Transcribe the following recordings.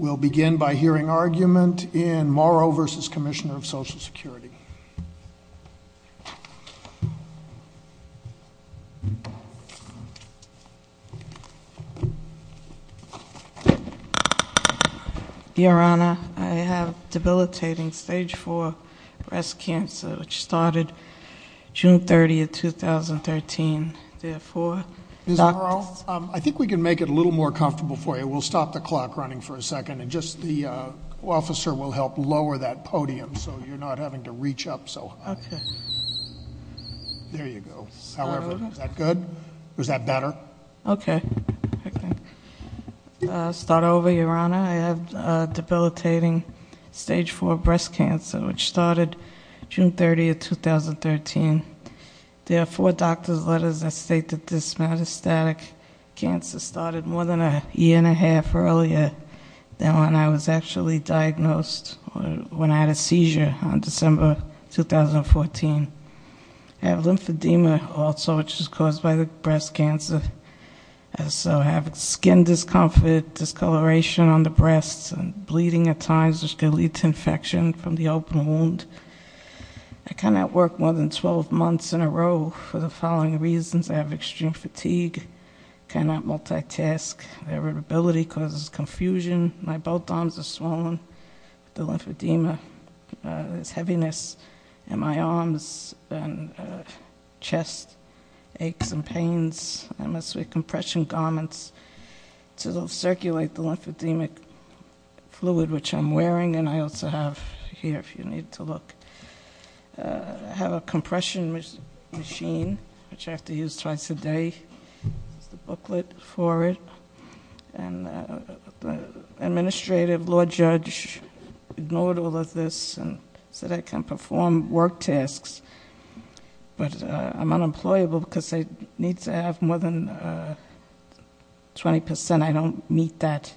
We'll begin by hearing argument in Morro v. Commissioner of Social Security. Your Honor, I have debilitating stage 4 breast cancer, which started June 30, 2013. Therefore, doctors... I hope we can make it a little more comfortable for you. We'll stop the clock running for a second and just the officer will help lower that podium so you're not having to reach up so high. There you go. However, is that good? Is that better? Okay. Start over, Your Honor. I have debilitating stage 4 breast cancer, which started June 30, 2013. There are four doctor's letters that state that this metastatic cancer started more than a year and a half earlier than when I was actually diagnosed, when I had a seizure on December 2014. I have lymphedema also, which is caused by the breast cancer. I also have skin discomfort, discoloration on the breasts, and bleeding at times, which can lead to infection from the open wound. I cannot work more than 12 months in a row for the following reasons. I have extreme fatigue. I cannot multitask. Irritability causes confusion. My both arms are swollen with the lymphedema. There's heaviness in my arms and chest aches and pains. I must wear compression garments to circulate the lymphedemic fluid, which I'm wearing, and I also have here, if you need to look. I have a compression machine, which I have to use twice a day. This is the booklet for it. And the administrative law judge ignored all of this and said I can perform work tasks. But I'm unemployable because I need to have more than 20%. I don't meet that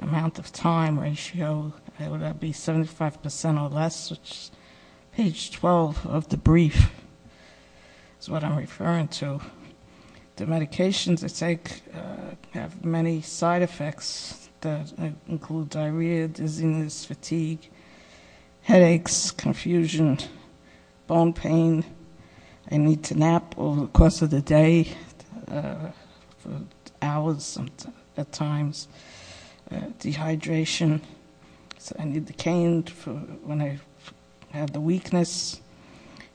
amount of time ratio. That would be 75% or less, which is page 12 of the brief is what I'm referring to. The medications I take have many side effects that include diarrhea, dizziness, fatigue, headaches, confusion, bone pain. I need to nap over the course of the day for hours at times, dehydration. I need the cane when I have the weakness,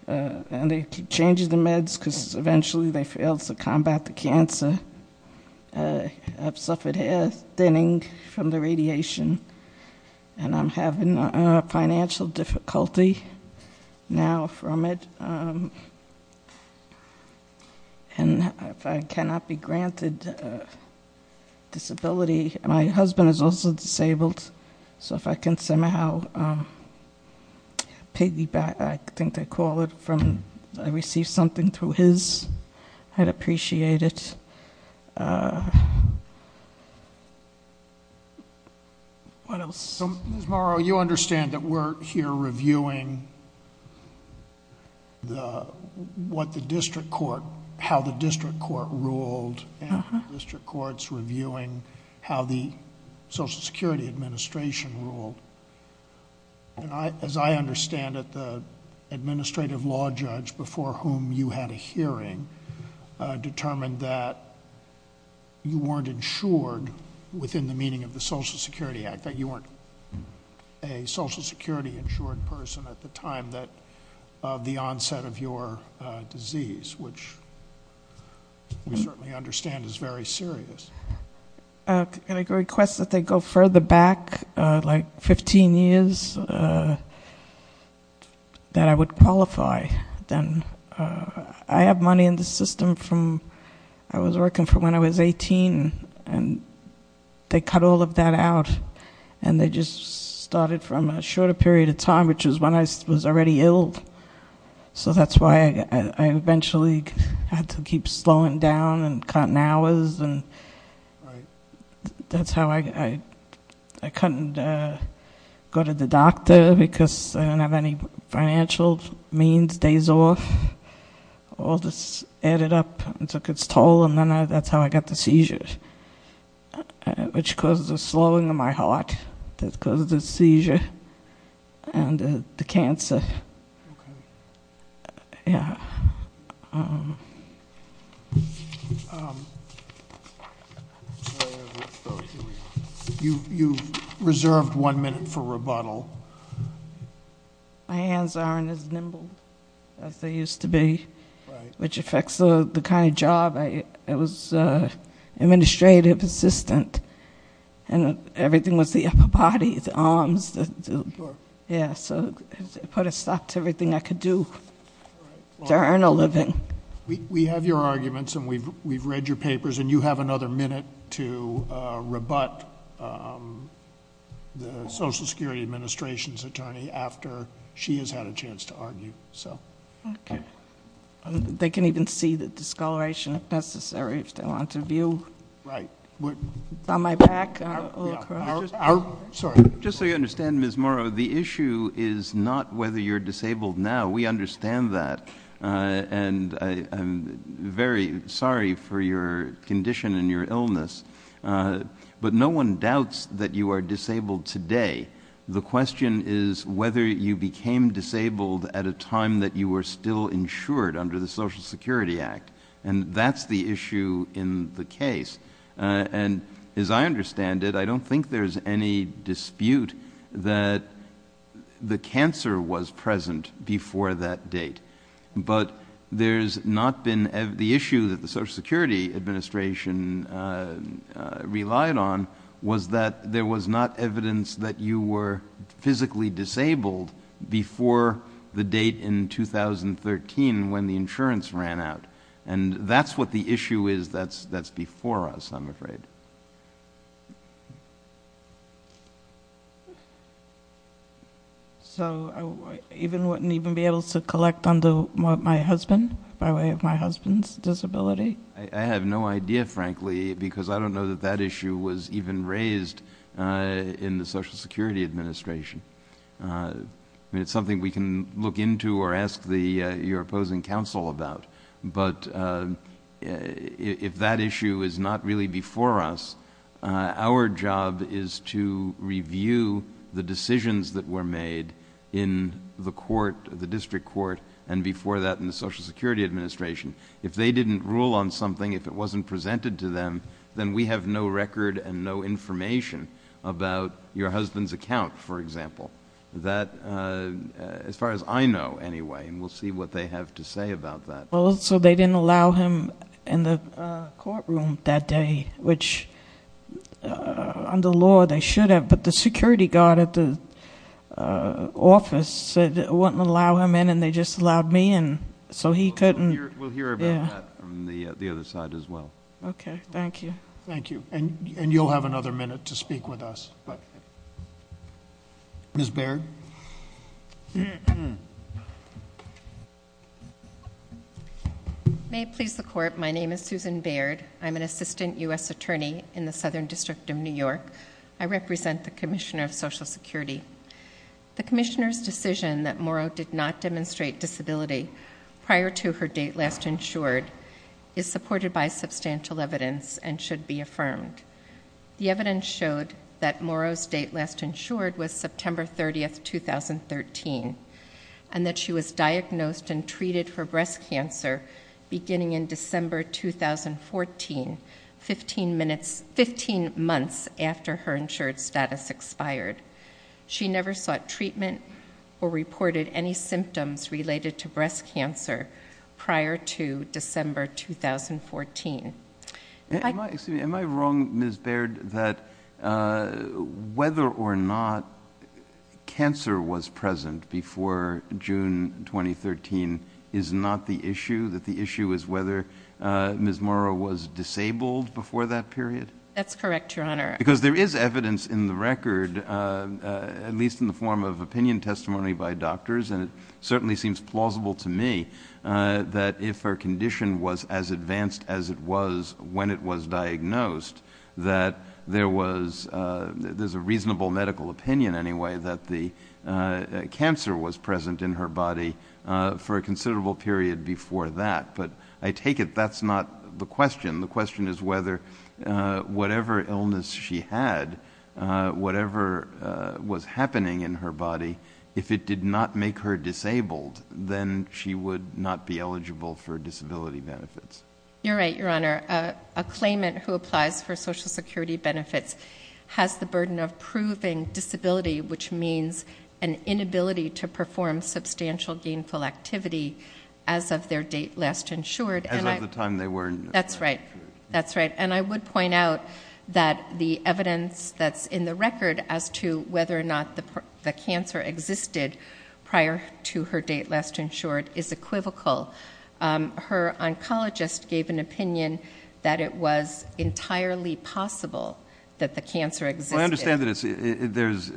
and I keep changing the meds because eventually they fail to combat the cancer. I've suffered hair thinning from the radiation, and I'm having financial difficulty now from it. And if I cannot be granted disability, my husband is also disabled. So if I can somehow pay the back, I think they call it, I receive something through his, I'd appreciate it. What else? Ms. Morrow, you understand that we're here reviewing what the district court, how the district court ruled, and the district court's reviewing how the Social Security Administration ruled. As I understand it, the administrative law judge before whom you had a hearing determined that you weren't insured within the meaning of the Social Security Act, that you weren't a Social Security insured person at the time of the onset of your disease, which we certainly understand is very serious. Can I request that they go further back, like 15 years, that I would qualify then? I have money in the system from, I was working from when I was 18, and they cut all of that out, and they just started from a shorter period of time, which was when I was already ill. So that's why I eventually had to keep slowing down and cutting hours, and that's how I couldn't go to the doctor because I didn't have any financial means, days off. All this added up and took its toll, and then that's how I got the seizures, which caused a slowing of my heart because of the seizure and the cancer. You reserved one minute for rebuttal. My hands aren't as nimble as they used to be, which affects the kind of job. I was an administrative assistant, and everything was the upper body, the arms. So it put a stop to everything I could do to earn a living. We have your arguments, and we've read your papers, and you have another minute to rebut the Social Security Administration's attorney after she has had a chance to argue. Okay. They can even see the discoloration, if necessary, if they want to view. Right. Is that on my back? Sorry. Just so you understand, Ms. Morrow, the issue is not whether you're disabled now. We understand that, and I'm very sorry for your condition and your illness, but no one doubts that you are disabled today. The question is whether you became disabled at a time that you were still insured under the Social Security Act, and that's the issue in the case. And as I understand it, I don't think there's any dispute that the cancer was present before that date, but there's not been the issue that the Social Security Administration relied on was that there was not evidence that you were physically disabled before the date in 2013 when the insurance ran out. And that's what the issue is that's before us, I'm afraid. So I wouldn't even be able to collect under my husband by way of my husband's disability? I have no idea, frankly, because I don't know that that issue was even raised in the Social Security Administration. It's something we can look into or ask your opposing counsel about, but if that issue is not really before us, our job is to review the decisions that were made in the court, the district court, and before that in the Social Security Administration. If they didn't rule on something, if it wasn't presented to them, then we have no record and no information about your husband's account, for example. That, as far as I know, anyway, and we'll see what they have to say about that. Well, so they didn't allow him in the courtroom that day, which under law they should have, but the security guard at the office wouldn't allow him in, and they just allowed me in, so he couldn't. We'll hear about that from the other side as well. Okay. Thank you. Thank you. And you'll have another minute to speak with us. Ms. Baird? May it please the Court, my name is Susan Baird. I'm an assistant U.S. attorney in the Southern District of New York. I represent the Commissioner of Social Security. The Commissioner's decision that Morrow did not demonstrate disability prior to her date last insured is supported by substantial evidence and should be affirmed. The evidence showed that Morrow's date last insured was September 30, 2013, and that she was diagnosed and treated for breast cancer beginning in December 2014, 15 months after her insured status expired. She never sought treatment or reported any symptoms related to breast cancer prior to December 2014. Excuse me. Am I wrong, Ms. Baird, that whether or not cancer was present before June 2013 is not the issue, that the issue is whether Ms. Morrow was disabled before that period? That's correct, Your Honor. Because there is evidence in the record, at least in the form of opinion testimony by doctors, and it certainly seems plausible to me that if her condition was as advanced as it was when it was diagnosed, that there was a reasonable medical opinion, anyway, that the cancer was present in her body for a considerable period before that. But I take it that's not the question. The question is whether whatever illness she had, whatever was happening in her body, if it did not make her disabled, then she would not be eligible for disability benefits. You're right, Your Honor. A claimant who applies for Social Security benefits has the burden of proving disability, which means an inability to perform substantial gainful activity as of their date last insured. As of the time they weren't. That's right. That's right. And I would point out that the evidence that's in the record as to whether or not the cancer existed prior to her date last insured is equivocal. Her oncologist gave an opinion that it was entirely possible that the cancer existed. Well, I understand that there's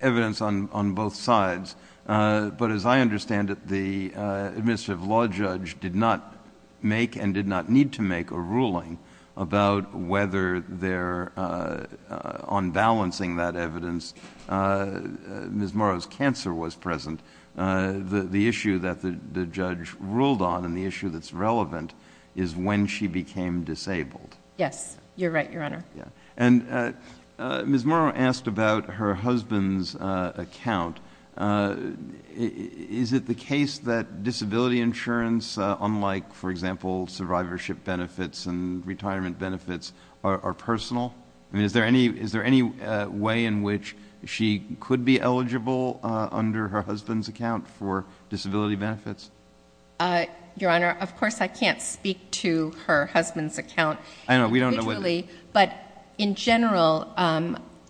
evidence on both sides, but as I understand it, the administrative law judge did not make and did not need to make a ruling about whether there, on balancing that evidence, Ms. Morrow's cancer was present. The issue that the judge ruled on and the issue that's relevant is when she became disabled. Yes, you're right, Your Honor. And Ms. Morrow asked about her husband's account. Is it the case that disability insurance, unlike, for example, survivorship benefits and retirement benefits, are personal? I mean, is there any way in which she could be eligible under her husband's account for disability benefits? Your Honor, of course I can't speak to her husband's account individually, but in general,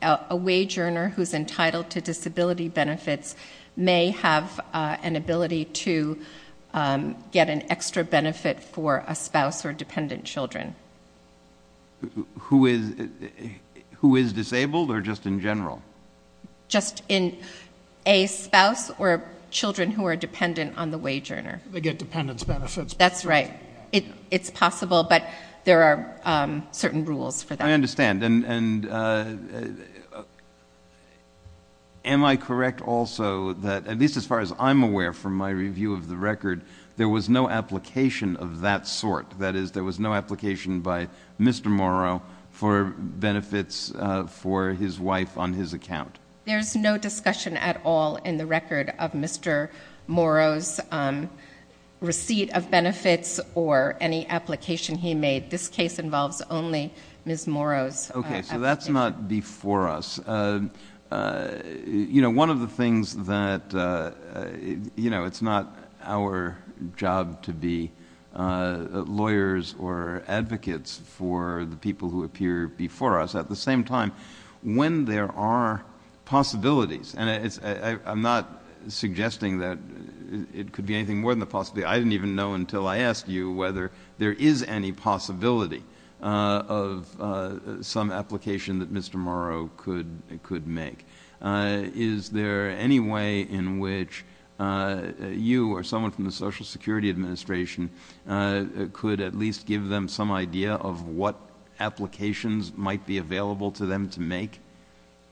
a wage earner who's entitled to disability benefits may have an ability to get an extra benefit for a spouse or dependent children. Who is disabled or just in general? Just in a spouse or children who are dependent on the wage earner. They get dependence benefits. That's right. It's possible, but there are certain rules for that. I understand, and am I correct also that, at least as far as I'm aware from my review of the record, there was no application of that sort? That is, there was no application by Mr. Morrow for benefits for his wife on his account? There's no discussion at all in the record of Mr. Morrow's receipt of benefits or any application he made. This case involves only Ms. Morrow's application. Okay, so that's not before us. You know, one of the things that, you know, it's not our job to be lawyers or advocates for the people who appear before us. At the same time, when there are possibilities, and I'm not suggesting that it could be anything more than a possibility. I didn't even know until I asked you whether there is any possibility of some application that Mr. Morrow could make. Is there any way in which you or someone from the Social Security Administration could at least give them some idea of what applications might be available to them to make?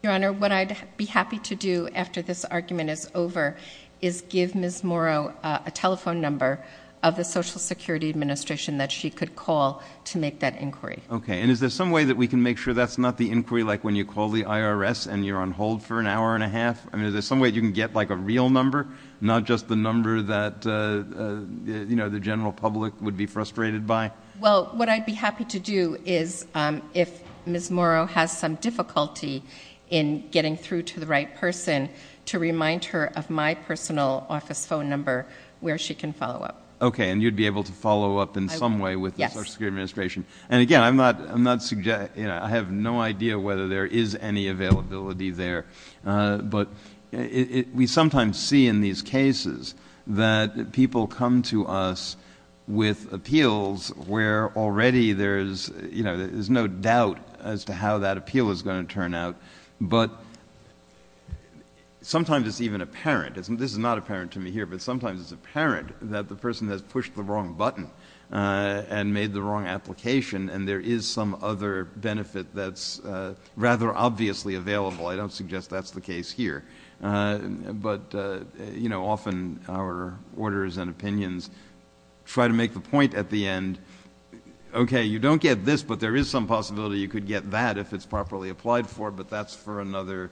Your Honor, what I'd be happy to do after this argument is over is give Ms. Morrow a telephone number of the Social Security Administration that she could call to make that inquiry. Okay, and is there some way that we can make sure that's not the inquiry like when you call the IRS and you're on hold for an hour and a half? I mean, is there some way you can get like a real number, not just the number that, you know, the general public would be frustrated by? Well, what I'd be happy to do is if Ms. Morrow has some difficulty in getting through to the right person, to remind her of my personal office phone number where she can follow up. Okay, and you'd be able to follow up in some way with the Social Security Administration? Yes. And again, I'm not suggesting, you know, I have no idea whether there is any availability there. But we sometimes see in these cases that people come to us with appeals where already there's, you know, there's no doubt as to how that appeal is going to turn out. But sometimes it's even apparent. This is not apparent to me here, but sometimes it's apparent that the person has pushed the wrong button and made the wrong application, and there is some other benefit that's rather obviously available. I don't suggest that's the case here. But, you know, often our orders and opinions try to make the point at the end, okay, you don't get this, but there is some possibility you could get that if it's properly applied for, but that's for another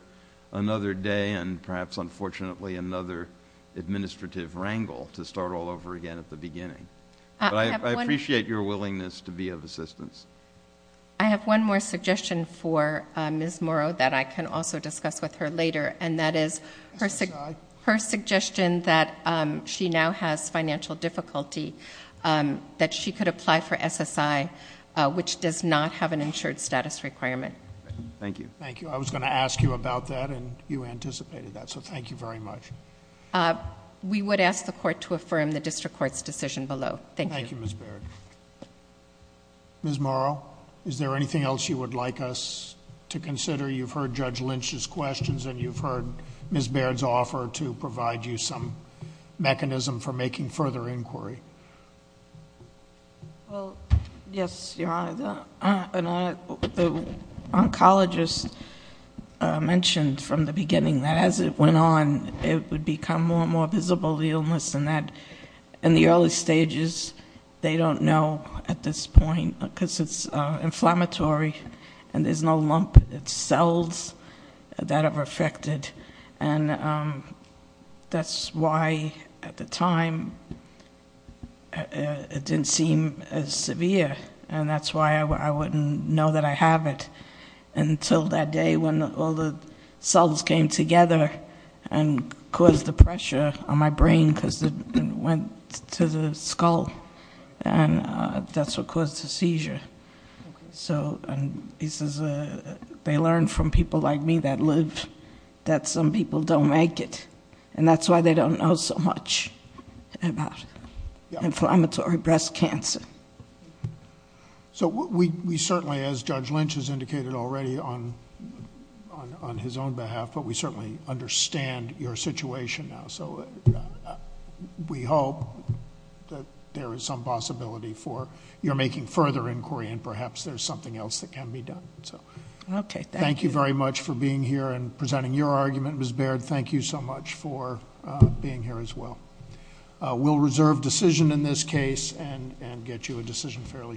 day and perhaps unfortunately another administrative wrangle to start all over again at the beginning. But I appreciate your willingness to be of assistance. I have one more suggestion for Ms. Morrow that I can also discuss with her later, and that is her suggestion that she now has financial difficulty, that she could apply for SSI, which does not have an insured status requirement. Thank you. Thank you. I was going to ask you about that, and you anticipated that, so thank you very much. We would ask the court to affirm the district court's decision below. Thank you. Thank you, Ms. Baird. Ms. Morrow, is there anything else you would like us to consider? You've heard Judge Lynch's questions and you've heard Ms. Baird's offer to provide you some mechanism for making further inquiry. Well, yes, Your Honor, the oncologist mentioned from the beginning that as it went on, it would become more and more visible, the illness, and that in the early stages, they don't know at this point because it's inflammatory and there's no lump. It's cells that have affected, and that's why at the time it didn't seem as severe, and that's why I wouldn't know that I have it until that day when all the cells came together and caused the pressure on my brain because it went to the skull, and that's what caused the seizure. They learned from people like me that live that some people don't make it, and that's why they don't know so much about inflammatory breast cancer. We certainly, as Judge Lynch has indicated already on his own behalf, but we certainly understand your situation now, so we hope that there is some possibility for your making further inquiry, and perhaps there's something else that can be done. Thank you very much for being here and presenting your argument, Ms. Baird. Thank you so much for being here as well. We'll reserve decision in this case and get you a decision fairly shortly.